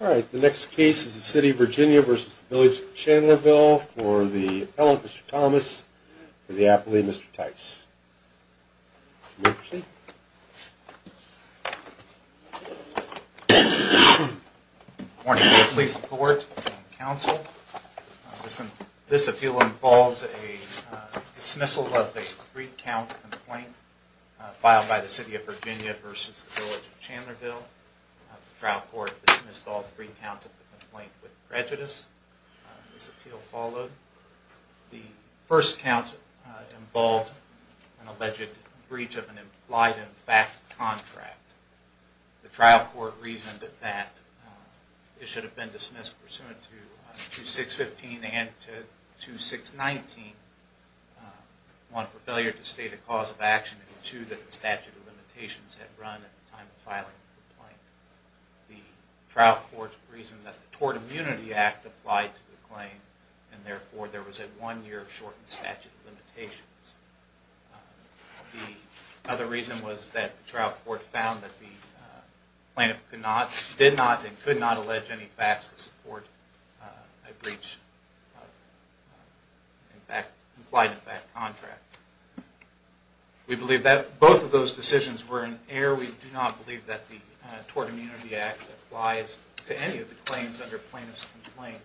Alright, the next case is the City of Virginia v. The Village of Chandlerville for the appellant, Mr. Thomas, for the appellee, Mr. Tice. Mr. Tice. Good morning to the Police Board and Council. This appeal involves a dismissal of a three-count complaint filed by the City of Virginia v. The Village of Chandlerville. The trial court dismissed all three counts of the complaint with prejudice. This appeal followed. The first count involved an alleged breach of an implied-in-fact contract. The trial court reasoned that it should have been dismissed pursuant to 2-6-15 and 2-6-19, one for failure to state a cause of action and two that the statute of limitations had run at the time of filing the complaint. The trial court reasoned that the Tort Immunity Act applied to the claim and therefore there was a one-year shortened statute of limitations. The other reason was that the trial court found that the plaintiff did not and could not allege any facts to support a breach of an implied-in-fact contract. We believe that both of those decisions were in error. We do not believe that the Tort Immunity Act applies to any of the claims under plaintiff's complaint.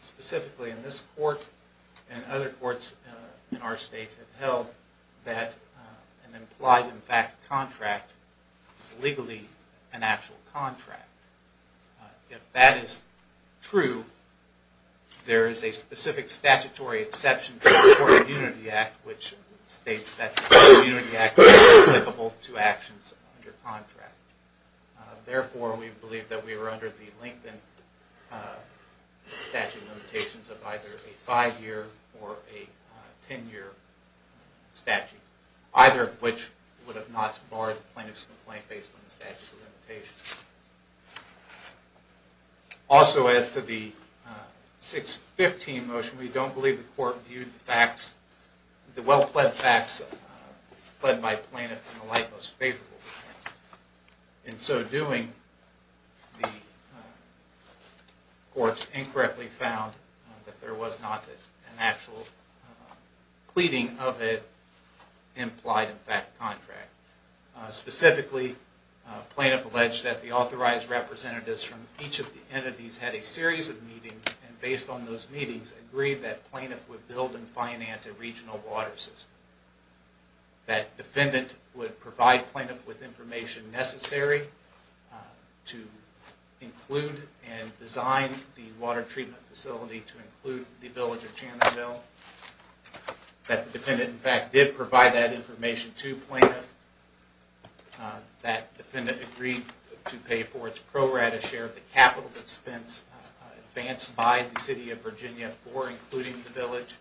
Specifically, in this court and other courts in our state have held that an implied-in-fact contract is legally an actual contract. If that is true, there is a specific statutory exception to the Tort Immunity Act which states that the Tort Immunity Act is applicable to actions under contract. Therefore, we believe that we are under the length and statute of limitations of either a 5-year or a 10-year statute, either of which would have not barred the plaintiff's complaint based on the statute of limitations. Also, as to the 615 motion, we don't believe the court viewed the facts, the well-pled facts, pled by plaintiff in the light most favorable. In so doing, the court incorrectly found that there was not an actual pleading of an implied-in-fact contract. Specifically, plaintiff alleged that the authorized representatives from each of the entities had a series of meetings and based on those meetings agreed that plaintiff would build and finance a regional water system. That defendant would provide plaintiff with information necessary to include and design the water treatment facility to include the village of Channonville. That the defendant, in fact, did provide that information to plaintiff. That defendant agreed to pay for its pro-rata share of the capital expense advanced by the City of Virginia for including the village.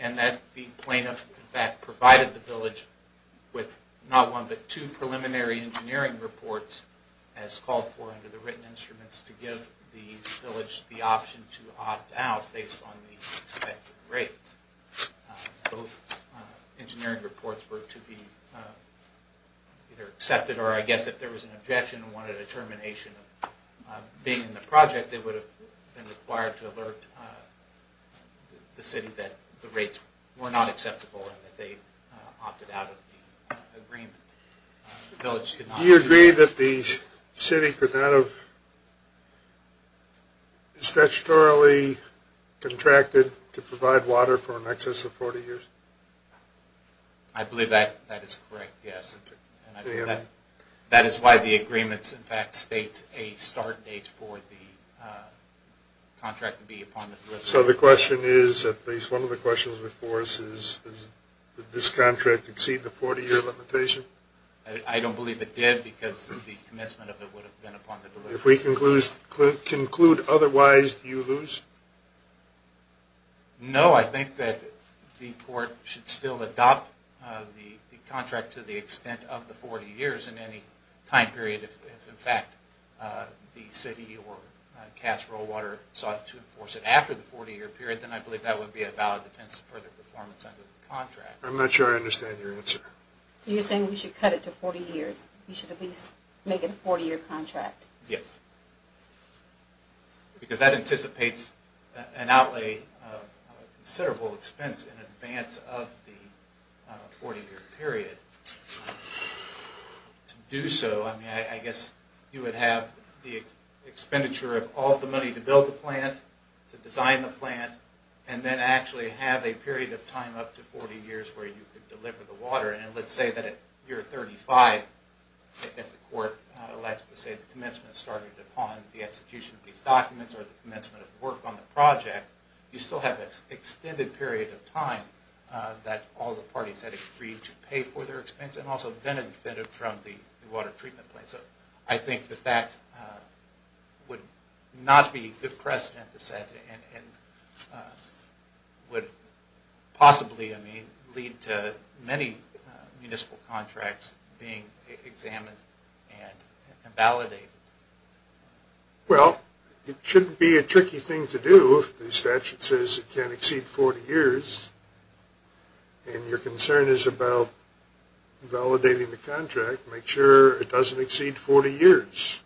And that the plaintiff, in fact, provided the village with not one, but two preliminary engineering reports as called for under the written instruments to give the village the option to opt out based on the expected rates. Both engineering reports were to be either accepted or, I guess, if there was an objection and wanted a termination of being in the project, they would have been required to alert the City that the rates were not acceptable and that they opted out of the agreement. Do you agree that the City could not have statutorily contracted to provide water for an excess of 40 years? I believe that is correct, yes. That is why the agreements, in fact, state a start date for the contract to be upon the... So the question is, at least one of the questions before us is, did this contract exceed the 40-year limitation? I don't believe it did because the commencement of it would have been upon the... If we conclude otherwise, do you lose? No, I think that the Court should still adopt the contract to the extent of the 40 years in any time period. If, in fact, the City or Cass Rollwater sought to enforce it after the 40-year period, then I believe that would be a valid defense of further performance under the contract. I'm not sure I understand your answer. So you're saying we should cut it to 40 years? We should at least make it a 40-year contract? Yes. Because that anticipates an outlay of considerable expense in advance of the 40-year period. To do so, I guess you would have the expenditure of all the money to build the plant, to design the plant, and then actually have a period of time up to 40 years where you could deliver the water. And let's say that at year 35, if the Court elects to say the commencement started upon the execution of these documents or the commencement of the work on the project, you still have an extended period of time that all the parties had agreed to pay for their expense, and also benefited from the water treatment plant. So I think that that would not be a good precedent to set and would possibly lead to many municipal contracts being examined and validated. Well, it shouldn't be a tricky thing to do if the statute says it can't exceed 40 years. And your concern is about validating the contract, make sure it doesn't exceed 40 years.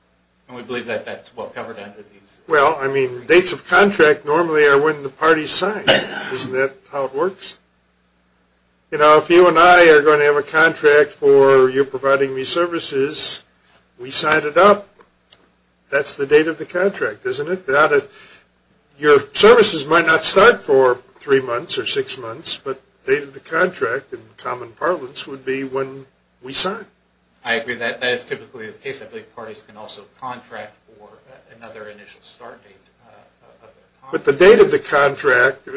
And we believe that that's well covered under these. Well, I mean, dates of contract normally are when the parties sign. Isn't that how it works? You know, if you and I are going to have a contract for you providing me services, we sign it up. That's the date of the contract, isn't it? Your services might not start for three months or six months, but the date of the contract in common parlance would be when we sign. I agree that that is typically the case. I believe parties can also contract for another initial start date. But the date of the contract,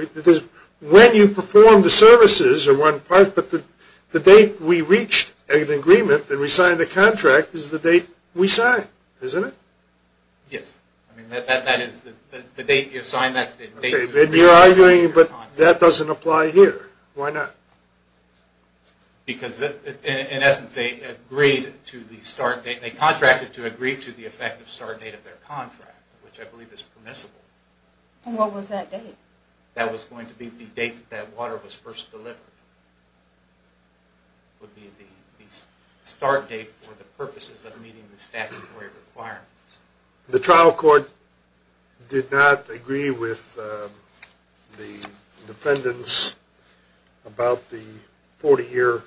when you perform the services are one part, but the date we reached an agreement and we signed the contract is the date we sign, isn't it? Yes. I mean, that is the date you sign. You're arguing that that doesn't apply here. Why not? Because, in essence, they agreed to the start date. They contracted to agree to the effective start date of their contract, which I believe is permissible. And what was that date? That was going to be the date that water was first delivered. It would be the start date for the purposes of meeting the statutory requirements. The trial court did not agree with the defendants about the 40-year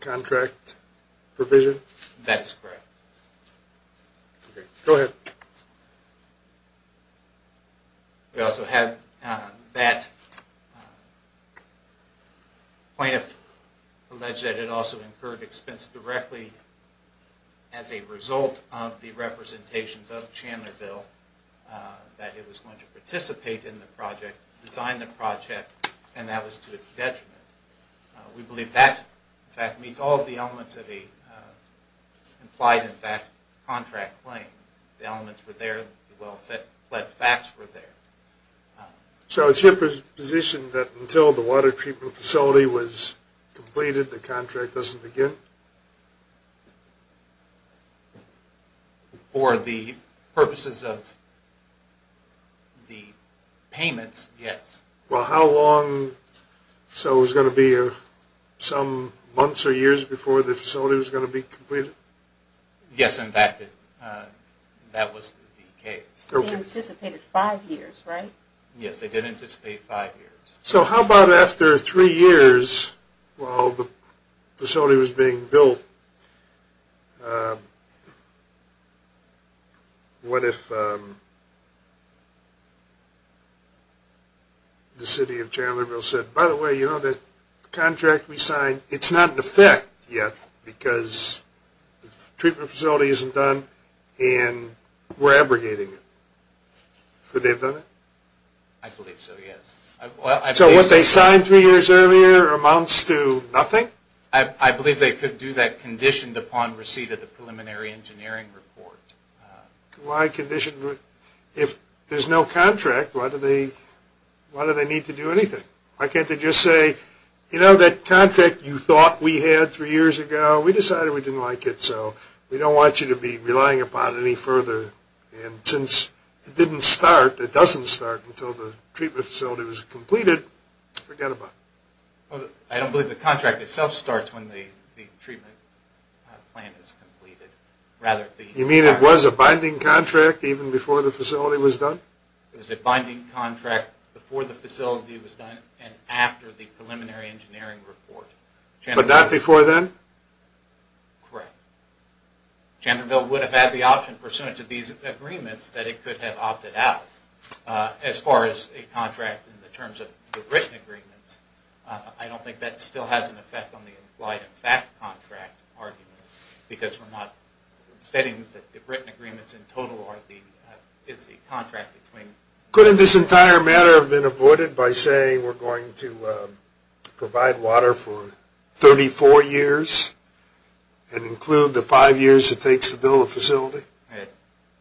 contract provision? That is correct. Okay. Go ahead. We also have that plaintiff alleged that it also incurred expense directly as a result of the representations of Chandlerville, that it was going to participate in the project, design the project, and that was to its detriment. We believe that, in fact, meets all of the elements of the implied, in fact, contract claim. The elements were there. The well-fed facts were there. So it's your position that until the water treatment facility was completed, the contract doesn't begin? For the purposes of the payments, yes. Well, how long? So it was going to be some months or years before the facility was going to be completed? Yes, in fact, that was the case. They anticipated five years, right? Yes, they did anticipate five years. So how about after three years, while the facility was being built, what if the city of Chandlerville said, By the way, you know that the contract we signed, it's not in effect yet because the treatment facility isn't done, and we're abrogating it. Could they have done that? I believe so, yes. So what they signed three years earlier amounts to nothing? I believe they could do that conditioned upon receipt of the preliminary engineering report. Why condition? If there's no contract, why do they need to do anything? Why can't they just say, you know, that contract you thought we had three years ago, we decided we didn't like it, so we don't want you to be relying upon it any further. And since it didn't start, it doesn't start until the treatment facility was completed, forget about it. I don't believe the contract itself starts when the treatment plan is completed. You mean it was a binding contract even before the facility was done? It was a binding contract before the facility was done and after the preliminary engineering report. But not before then? Correct. Chandlerville would have had the option pursuant to these agreements that it could have opted out. As far as a contract in the terms of the written agreements, I don't think that still has an effect on the implied and fact contract argument because we're not stating that the written agreements in total is the contract between. Couldn't this entire matter have been avoided by saying we're going to provide water for 34 years and include the five years it takes to build a facility?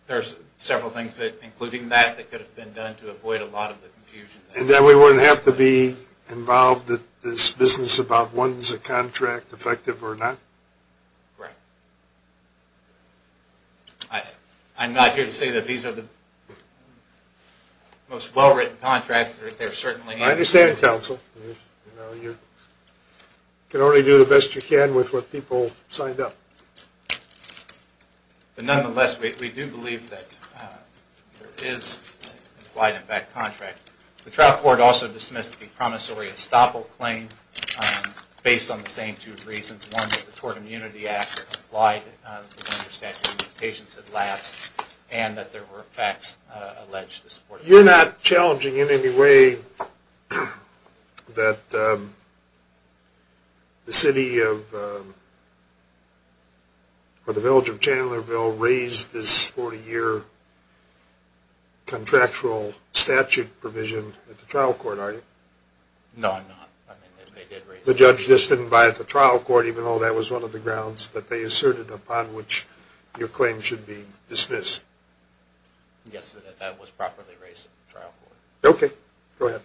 There's several things including that that could have been done to avoid a lot of the confusion. And then we wouldn't have to be involved in this business about whether a contract is effective or not? Correct. I'm not here to say that these are the most well-written contracts. I understand, counsel. You can only do the best you can with what people signed up. But nonetheless, we do believe that there is an implied and fact contract. The trial court also dismissed the promissory estoppel claim based on the same two reasons. One, that the Tort Immunity Act applied under statute of limitations had lapsed and that there were facts alleged to support it. You're not challenging in any way that the city or the village of Chandlerville raised this 40-year contractual statute provision at the trial court, are you? No, I'm not. The judge just didn't buy it at the trial court even though that was one of the grounds that they asserted upon which your claim should be dismissed. Yes, that was properly raised at the trial court. Okay, go ahead.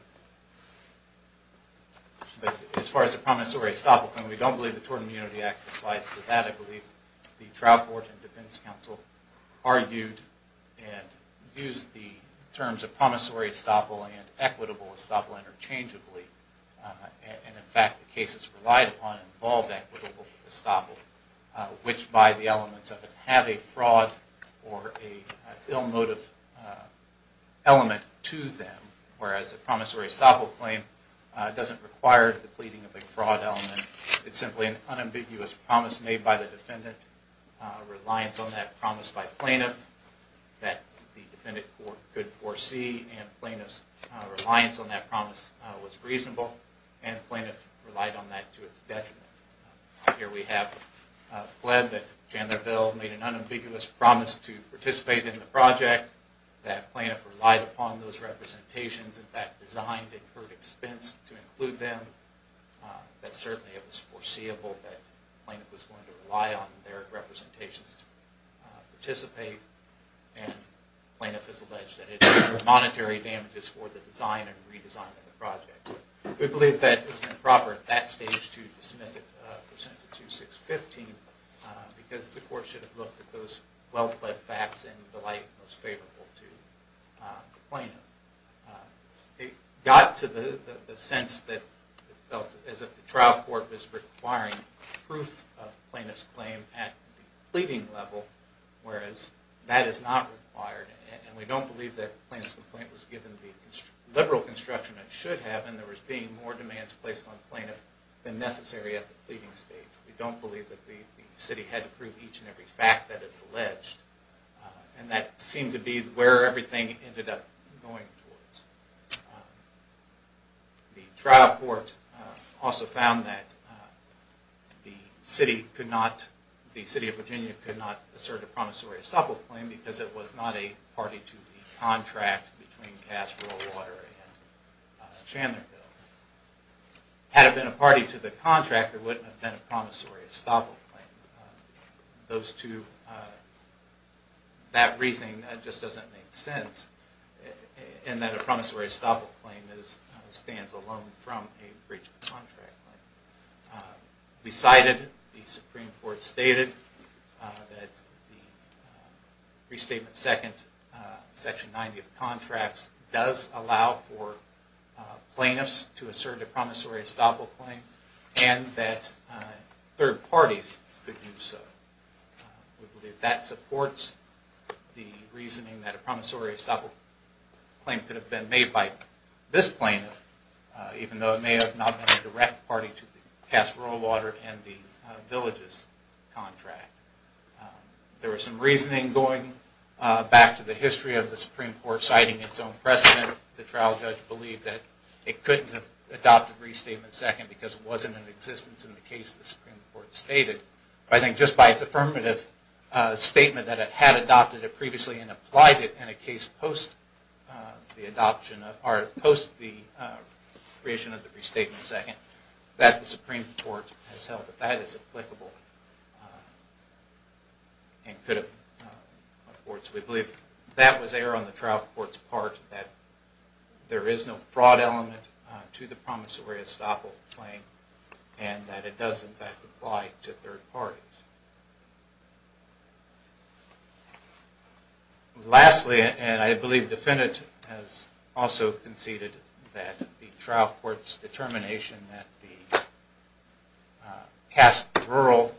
As far as the promissory estoppel claim, we don't believe the Tort Immunity Act applies to that. I believe the trial court and defense counsel argued and used the terms of promissory estoppel and equitable estoppel interchangeably. And in fact, the cases relied upon involved equitable estoppel, which by the elements of it have a fraud or a ill-motive element to them, whereas the promissory estoppel claim doesn't require the pleading of a fraud element. It's simply an unambiguous promise made by the defendant, reliance on that promise by plaintiff that the defendant could foresee, and plaintiff's reliance on that promise was reasonable, and the plaintiff relied on that to its detriment. Here we have fled that Jandlerville made an unambiguous promise to participate in the project, that plaintiff relied upon those representations, in fact designed at her expense to include them, that certainly it was foreseeable that the plaintiff was going to rely on their representations to participate, and the plaintiff has alleged that it was for monetary damages for the design and redesign of the project. We believe that it was improper at that stage to dismiss it, present it to 615, because the court should have looked at those well-fled facts in the light most favorable to the plaintiff. It got to the sense that it felt as if the trial court was requiring proof of plaintiff's claim at the pleading level, whereas that is not required, and we don't believe that the plaintiff's complaint was given the liberal construction that it should have, and there was being more demands placed on plaintiff than necessary at the pleading stage. We don't believe that the city had to prove each and every fact that it alleged, and that seemed to be where everything ended up going towards. The trial court also found that the City of Virginia could not assert a promissory estoppel claim, because it was not a party to the contract between Cass, Rural Water, and Chandlerville. Had it been a party to the contract, it wouldn't have been a promissory estoppel claim. That reasoning just doesn't make sense, in that a promissory estoppel claim stands alone from a breach of contract. We cited, the Supreme Court stated, that the Restatement Second, Section 90 of the contracts, does allow for plaintiffs to assert a promissory estoppel claim, and that third parties could do so. We believe that supports the reasoning that a promissory estoppel claim could have been made by this plaintiff, even though it may have not been a direct party to the Cass, Rural Water and the Villages contract. There was some reasoning going back to the history of the Supreme Court citing its own precedent. The trial judge believed that it couldn't have adopted Restatement Second, because it wasn't in existence in the case the Supreme Court stated. I think just by its affirmative statement that it had adopted it previously, and applied it in a case post the adoption, or post the creation of the Restatement Second, that the Supreme Court has held that that is applicable. We believe that was error on the trial court's part, that there is no fraud element to the promissory estoppel claim, and that it does in fact apply to third parties. Lastly, and I believe the defendant has also conceded that the trial court's determination that the Cass, Rural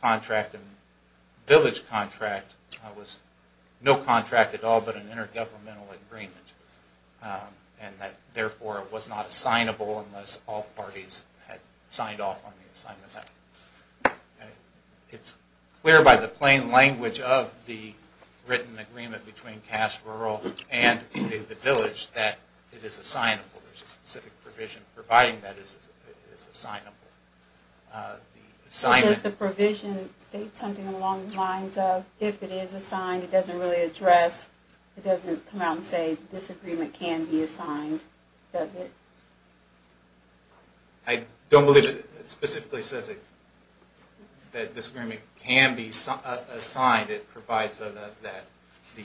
contract and Village contract was no contract at all, but an intergovernmental agreement, and that therefore it was not assignable unless all parties had signed off on the assignment. It's clear by the plain language of the written agreement between Cass, Rural and the Village that it is assignable. There's a specific provision providing that it is assignable. Does the provision state something along the lines of, if it is assigned it doesn't really address, it doesn't come out and say this agreement can be assigned, does it? I don't believe it specifically says that this agreement can be assigned. It provides that the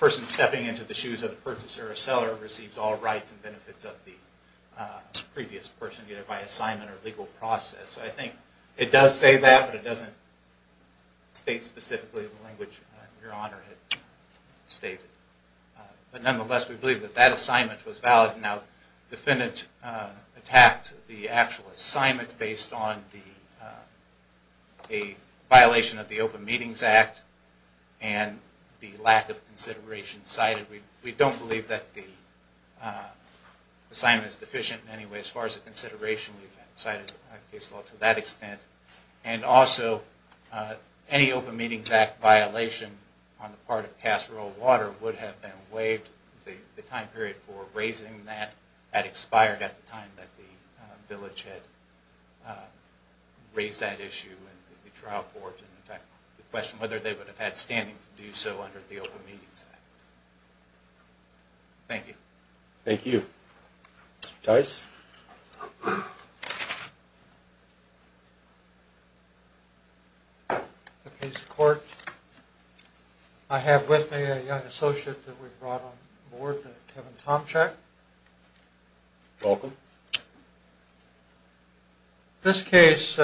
person stepping into the shoes of the purchaser or seller receives all rights and benefits of the previous person either by assignment or legal process. So I think it does say that, but it doesn't state specifically the language Your Honor had stated. But nonetheless, we believe that that assignment was valid. Now, the defendant attacked the actual assignment based on a violation of the Open Meetings Act and the lack of consideration cited. We don't believe that the assignment is deficient in any way as far as the consideration. And also, any Open Meetings Act violation on the part of Cass, Rural, Water would have been waived. The time period for raising that had expired at the time that the Village had raised that issue. The question whether they would have had standing to do so under the Open Meetings Act. Thank you. Thank you. Mr. Tice. Appease the Court. I have with me a young associate that we brought on board, Kevin Tomchak. Welcome. This case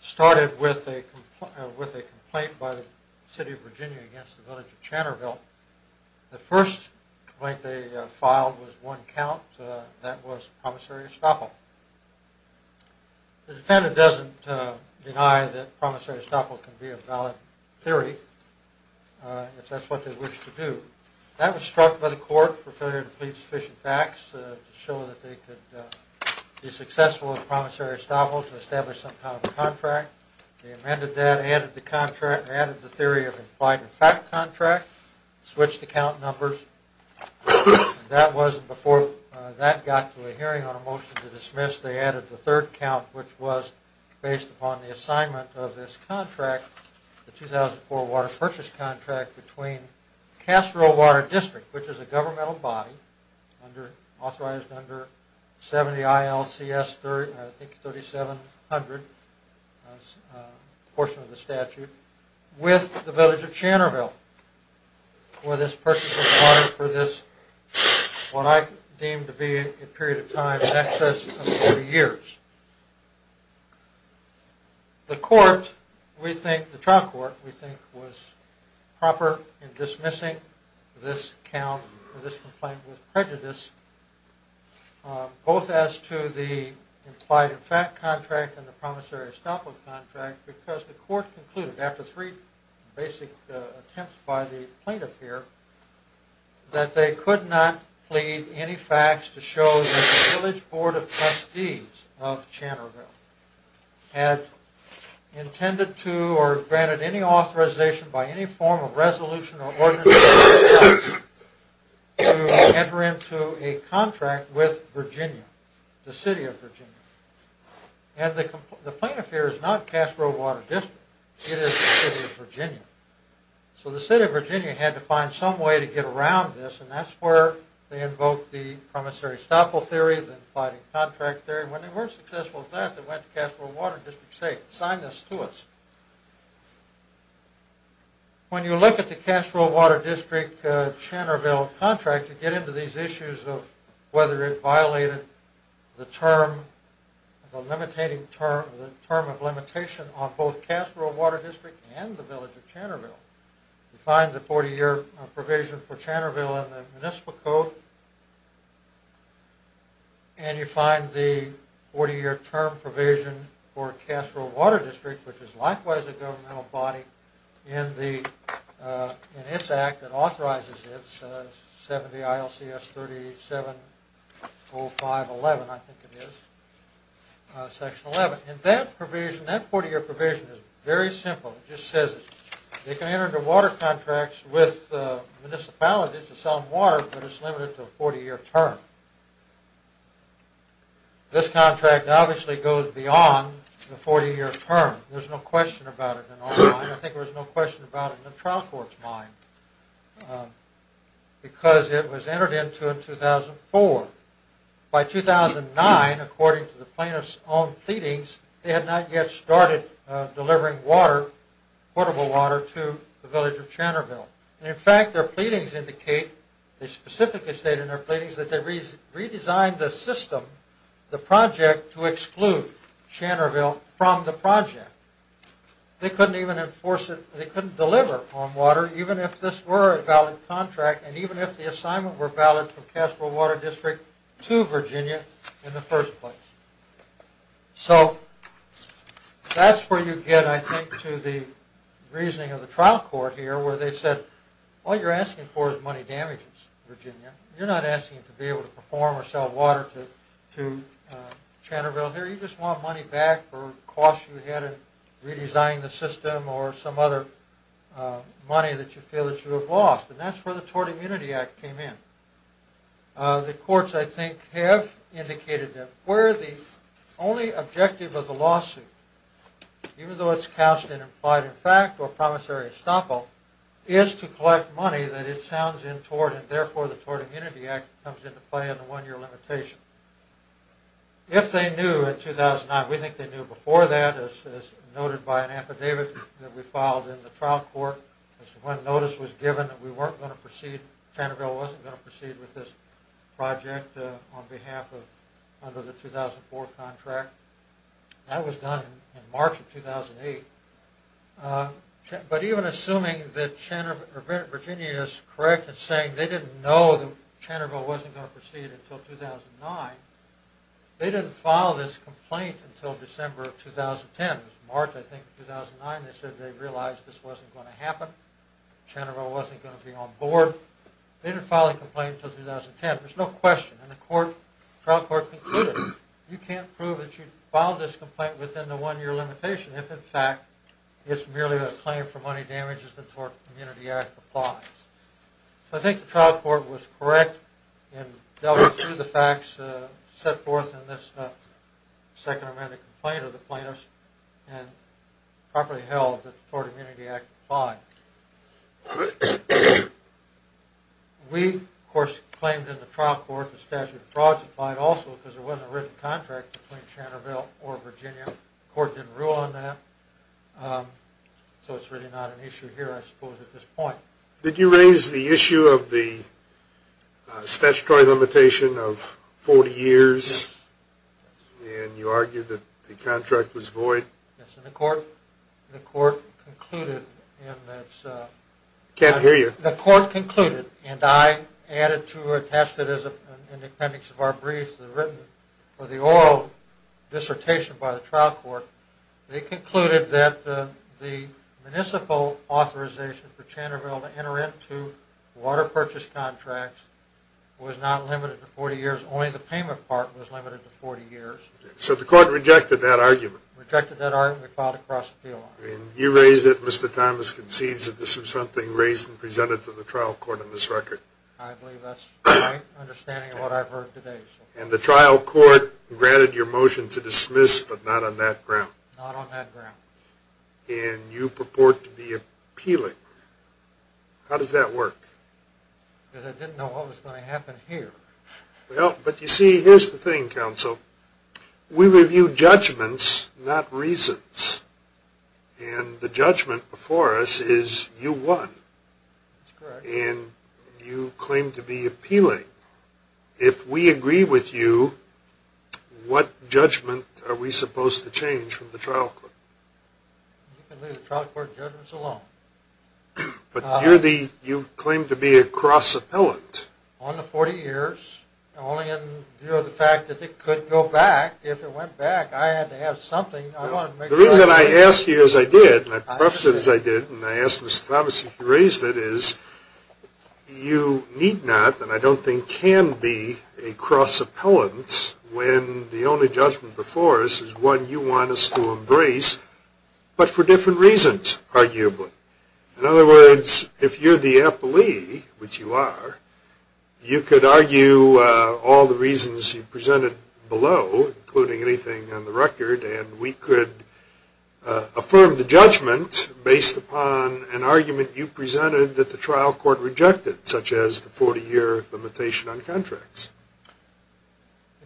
started with a complaint by the City of Virginia against the Village of Chatterville. The first complaint they filed was one count. That was Promissory Estoffel. The defendant doesn't deny that Promissory Estoffel can be a valid theory, if that's what they wish to do. That was struck by the Court for failure to plead sufficient facts to show that they could be successful with Promissory Estoffel to establish some kind of contract. They amended that, added the contract, added the theory of implied and fact contract, switched the count numbers. That was before that got to a hearing on a motion to dismiss. They added the third count, which was based upon the assignment of this contract, the 2004 Water Purchase Contract between Cass, Rural, Water District, which is a governmental body authorized under 70 ILCS 3700 portion of the statute, with the Village of Chatterville for this purchase of water for this, what I deem to be a period of time in excess of 30 years. The trial court, we think, was proper in dismissing this complaint with prejudice, both as to the implied and fact contract and the Promissory Estoffel contract, because the court concluded, after three basic attempts by the plaintiff here, that they could not plead any facts to show that the Village Board of Trustees of Chatterville had intended to or granted any authorization by any form of resolution or ordinance to enter into a contract with Virginia, the City of Virginia. And the plaintiff here is not Cass, Rural, Water District, it is the City of Virginia. So the City of Virginia had to find some way to get around this, and that's where they invoked the Promissory Estoffel theory, the implied contract theory. When they weren't successful at that, they went to Cass, Rural, Water District and said, sign this to us. When you look at the Cass, Rural, Water District Chatterville contract, you get into these issues of whether it violated the term, the term of limitation on both Cass, Rural, Water District and the Village of Chatterville. You find the 40-year provision for Chatterville in the Municipal Code, and you find the 40-year term provision for Cass, Rural, Water District, which is likewise a governmental body in its Act that authorizes it, 70 ILCS 3870511, I think it is, Section 11. And that provision, that 40-year provision is very simple. It just says they can enter into water contracts with municipalities to sell them water, but it's limited to a 40-year term. This contract obviously goes beyond the 40-year term. There's no question about it in our mind. I think there's no question about it in the trial court's mind, because it was entered into in 2004. By 2009, according to the plaintiff's own pleadings, they had not yet started delivering water, portable water, to the Village of Chatterville. In fact, their pleadings indicate, they specifically state in their pleadings, that they redesigned the system, the project, to exclude Chatterville from the project. They couldn't even enforce it, they couldn't deliver on water, even if this were a valid contract, and even if the assignment were valid from Cass, Rural, Water District to Virginia in the first place. So, that's where you get, I think, to the reasoning of the trial court here, where they said, all you're asking for is money damages, Virginia. You're not asking to be able to perform or sell water to Chatterville here, you just want money back for costs you had in redesigning the system or some other money that you feel that you have lost. And that's where the Tort Immunity Act came in. The courts, I think, have indicated that where the only objective of the lawsuit, even though it's cast in applied in fact or promissory estoppel, is to collect money that it sounds in tort, and therefore the Tort Immunity Act comes into play in the one-year limitation. If they knew in 2009, we think they knew before that, as noted by an affidavit that we filed in the trial court, when notice was given that we weren't going to proceed, Chatterville wasn't going to proceed with this project on behalf of, under the 2004 contract. That was done in March of 2008. But even assuming that Virginia is correct in saying they didn't know that Chatterville wasn't going to proceed until 2009, they didn't file this complaint until December of 2010. It was March, I think, of 2009. They said they realized this wasn't going to happen. Chatterville wasn't going to be on board. They didn't file a complaint until 2010. There's no question, and the trial court concluded, you can't prove that you filed this complaint within the one-year limitation if, in fact, it's merely a claim for money damages that the Tort Immunity Act applies. So I think the trial court was correct in delving through the facts set forth in this second amendment complaint of the plaintiffs and properly held that the Tort Immunity Act applied. We, of course, claimed in the trial court the statute of frauds applied also because there wasn't a written contract between Chatterville or Virginia. The court didn't rule on that. So it's really not an issue here, I suppose, at this point. Did you raise the issue of the statutory limitation of 40 years? Yes. And you argued that the contract was void? Yes, in the court. The court concluded in its... I can't hear you. The court concluded, and I added to or attested as an appendix of our brief for the oral dissertation by the trial court, they concluded that the municipal authorization for Chatterville to enter into water purchase contracts was not limited to 40 years. Only the payment part was limited to 40 years. So the court rejected that argument? Rejected that argument and filed a cross-appeal on it. And you raised it, Mr. Thomas concedes, that this was something raised and presented to the trial court in this record? I believe that's my understanding of what I've heard today. And the trial court granted your motion to dismiss, but not on that ground? Not on that ground. And you purport to be appealing. How does that work? Because I didn't know what was going to happen here. Well, but you see, here's the thing, counsel. We review judgments, not reasons. And the judgment before us is you won. That's correct. And you claim to be appealing. If we agree with you, what judgment are we supposed to change from the trial court? You can leave the trial court judgments alone. But you claim to be a cross-appellant. On the 40 years. Only in view of the fact that it could go back. If it went back, I had to have something. The reason I asked you as I did, and I prefaced it as I did, and I asked Mr. Thomas if you raised it, is you need not, and I don't think can be, a cross-appellant when the only judgment before us is one you want us to embrace, but for different reasons, arguably. In other words, if you're the appellee, which you are, you could argue all the reasons you presented below, including anything on the record, and we could affirm the judgment based upon an argument you presented that the trial court rejected, such as the 40-year limitation on contracts.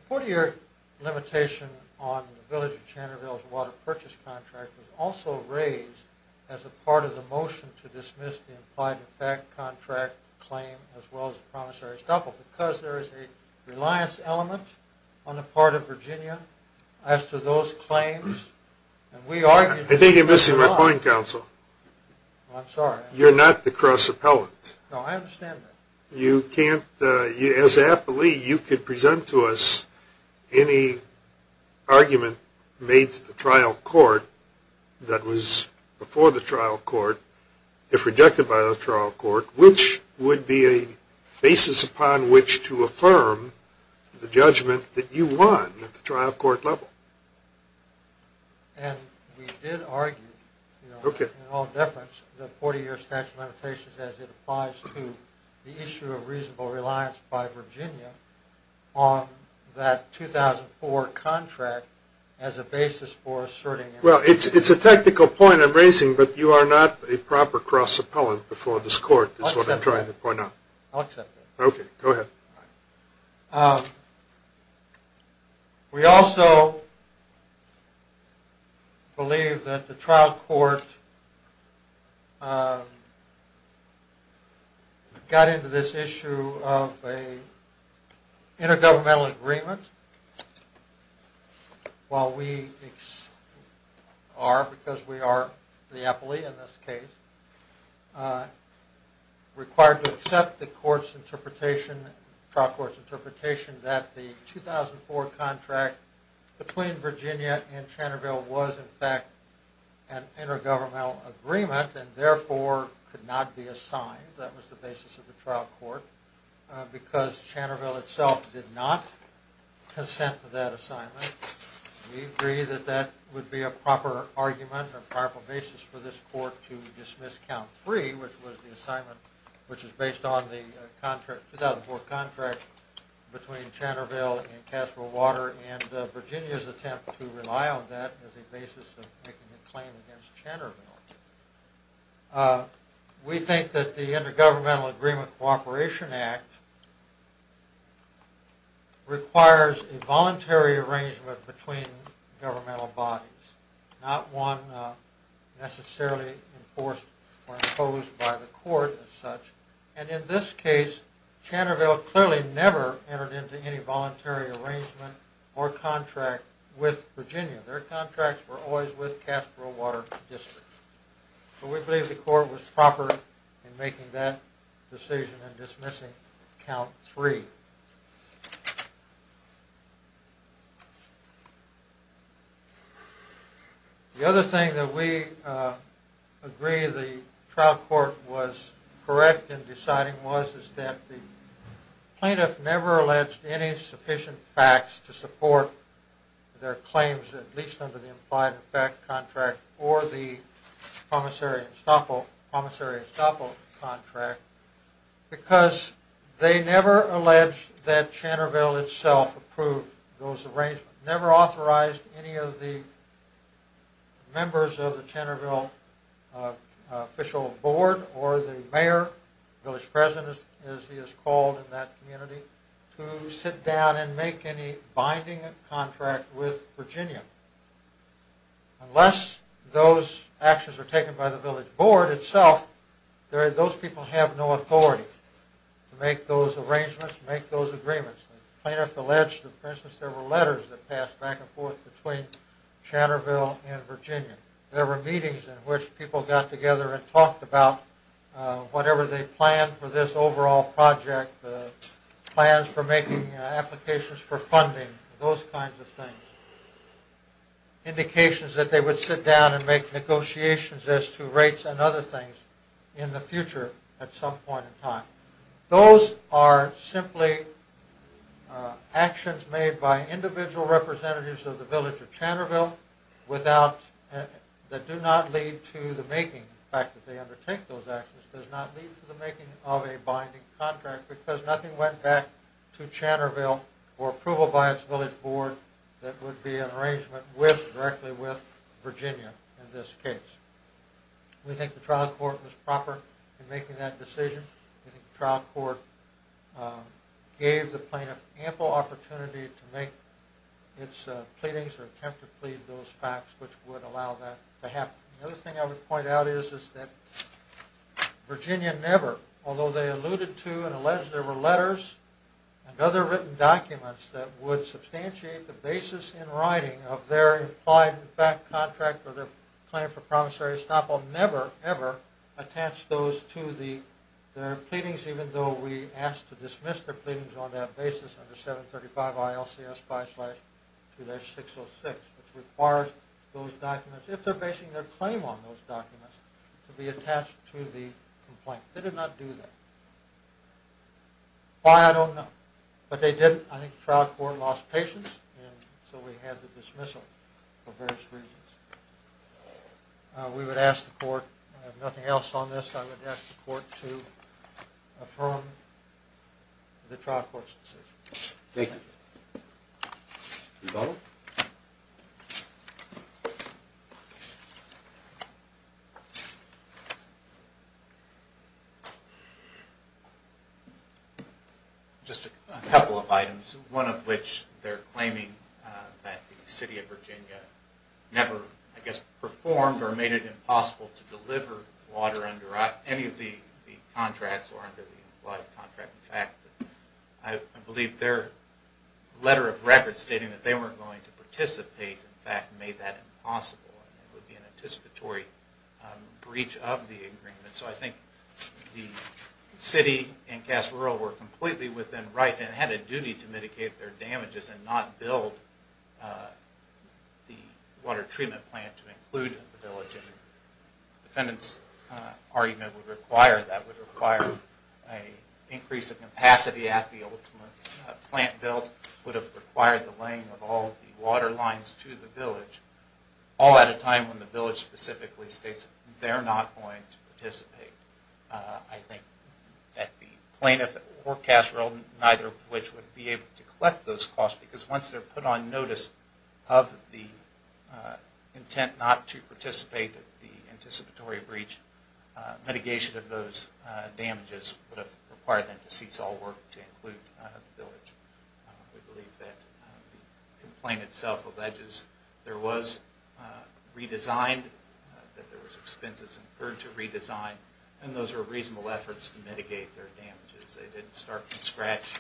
The 40-year limitation on the Village of Channerville's water purchase contract was also raised as a part of the motion to dismiss the implied effect contract claim as well as the promissory stuff, because there is a reliance element on the part of Virginia as to those claims. I think you're missing my point, counsel. I'm sorry. You're not the cross-appellant. No, I understand that. As an appellee, you could present to us any argument made to the trial court that was before the trial court, if rejected by the trial court, which would be a basis upon which to affirm the judgment that you won at the trial court level. And we did argue, in all deference, the 40-year statute of limitations as it applies to the issue of reasonable reliance by Virginia on that 2004 contract as a basis for asserting it. But you are not a proper cross-appellant before this court is what I'm trying to point out. I'll accept that. Okay, go ahead. We also believe that the trial court got into this issue of an intergovernmental agreement while we are, because we are the appellee in this case, required to accept the trial court's interpretation that the 2004 contract between Virginia and Channerville was, in fact, an intergovernmental agreement and, therefore, could not be assigned. That was the basis of the trial court. Because Channerville itself did not consent to that assignment, we agree that that would be a proper argument or proper basis for this court to dismiss count three, which was the assignment which was based on the 2004 contract between Channerville and Castlewater, and Virginia's attempt to rely on that as a basis of making a claim against Channerville. We think that the Intergovernmental Agreement Cooperation Act requires a voluntary arrangement between governmental bodies, not one necessarily enforced or imposed by the court as such. And in this case, Channerville clearly never entered into any voluntary arrangement or contract with Virginia. Their contracts were always with Castlewater District. So we believe the court was proper in making that decision in dismissing count three. The other thing that we agree the trial court was correct in deciding was that the plaintiff never alleged any sufficient facts to support their claims, at least under the implied effect contract or the promissory estoppel contract, because they never alleged that Channerville itself approved those arrangements, never authorized any of the members of the Channerville official board or the mayor, village president as he is called in that community, to sit down and make any binding contract with Virginia. Unless those actions are taken by the village board itself, those people have no authority to make those arrangements, make those agreements. The plaintiff alleged that, for instance, there were letters that passed back and forth between Channerville and Virginia. There were meetings in which people got together and talked about whatever they planned for this overall project, plans for making applications for funding, those kinds of things. Indications that they would sit down and make negotiations as to rates and other things in the future at some point in time. Those are simply actions made by individual representatives of the village of Channerville that do not lead to the making of a binding contract, because nothing went back to Channerville for approval by its village board that would be in arrangement directly with Virginia in this case. We think the trial court was proper in making that decision. We think the trial court gave the plaintiff ample opportunity to make its pleadings or attempt to plead those facts, which would allow that to happen. The other thing I would point out is that Virginia never, although they alluded to and alleged there were letters and other written documents that would substantiate the basis in writing of their implied fact contract or their plan for promissory estoppel, never, ever attached those to their pleadings, even though we asked to dismiss their pleadings on that basis under 735 ILCS 5-2-606, which requires those documents, if they're basing their claim on those documents, to be attached to the complaint. They did not do that. Why I don't know, but they did. I think the trial court lost patience and so we had the dismissal for various reasons. We would ask the court, I have nothing else on this, I would ask the court to affirm the trial court's decision. Thank you. Rebuttal. Just a couple of items, one of which they're claiming that the city of Virginia never, I guess, performed or made it impossible to deliver water under any of the contracts or under the implied contract. In fact, I believe their letter of record stating that they weren't going to participate, in fact, made that impossible. It would be an anticipatory breach of the agreement. So I think the city and Cass Rural were completely within right and had a duty to mitigate their damages and not build the water treatment plant to include the village. The defendant's argument would require that, would require an increase of capacity at the ultimate plant build, would have required the laying of all the water lines to the village, all at a time when the village specifically states they're not going to participate. I think that the plaintiff or Cass Rural, neither of which would be able to collect those costs because once they're put on notice of the intent not to participate in the anticipatory breach, mitigation of those damages would have required them to cease all work to include the village. We believe that the complaint itself alleges there was redesigned, that there was expenses incurred to redesign, and those were reasonable efforts to mitigate their damages. They didn't start from scratch.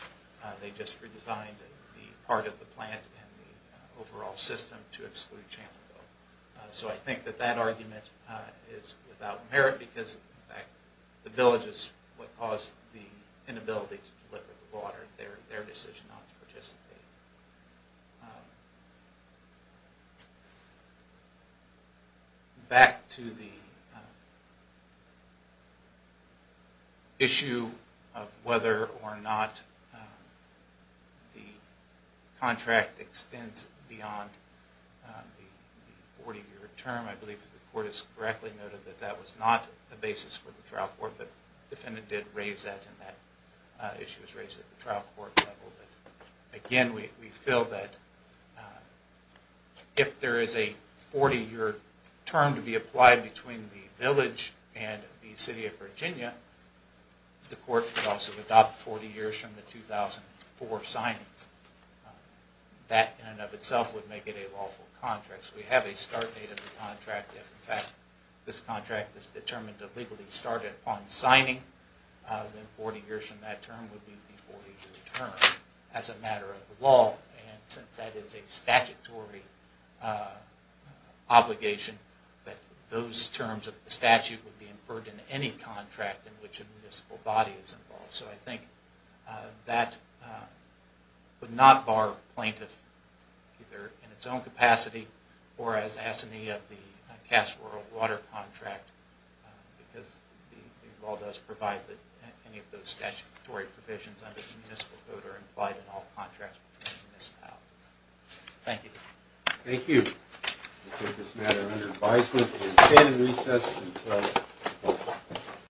They just redesigned the part of the plant and the overall system to exclude Chandlerville. So I think that that argument is without merit because, in fact, the village is what caused the inability to deliver the water, their decision not to participate. Back to the issue of whether or not the contract extends beyond the 40-year term. I believe the Court has correctly noted that that was not the basis for the trial court, but the defendant did raise that, and that issue was raised at the trial court level. Again, we feel that if there is a 40-year term to be applied between the village and the City of Virginia, the Court could also adopt 40 years from the 2004 signing. That in and of itself would make it a lawful contract. So we have a start date of the contract. If, in fact, this contract is determined to legally start upon signing, then 40 years from that term would be the 40-year term as a matter of the law. And since that is a statutory obligation, those terms of the statute would be inferred in any contract in which a municipal body is involved. So I think that would not bar a plaintiff either in its own capacity or as assignee of the Cass World Water contract, because the law does provide that any of those statutory provisions under the municipal code are implied in all contracts between municipalities. Thank you. Thank you. We take this matter under advisement. We will stand in recess until 12.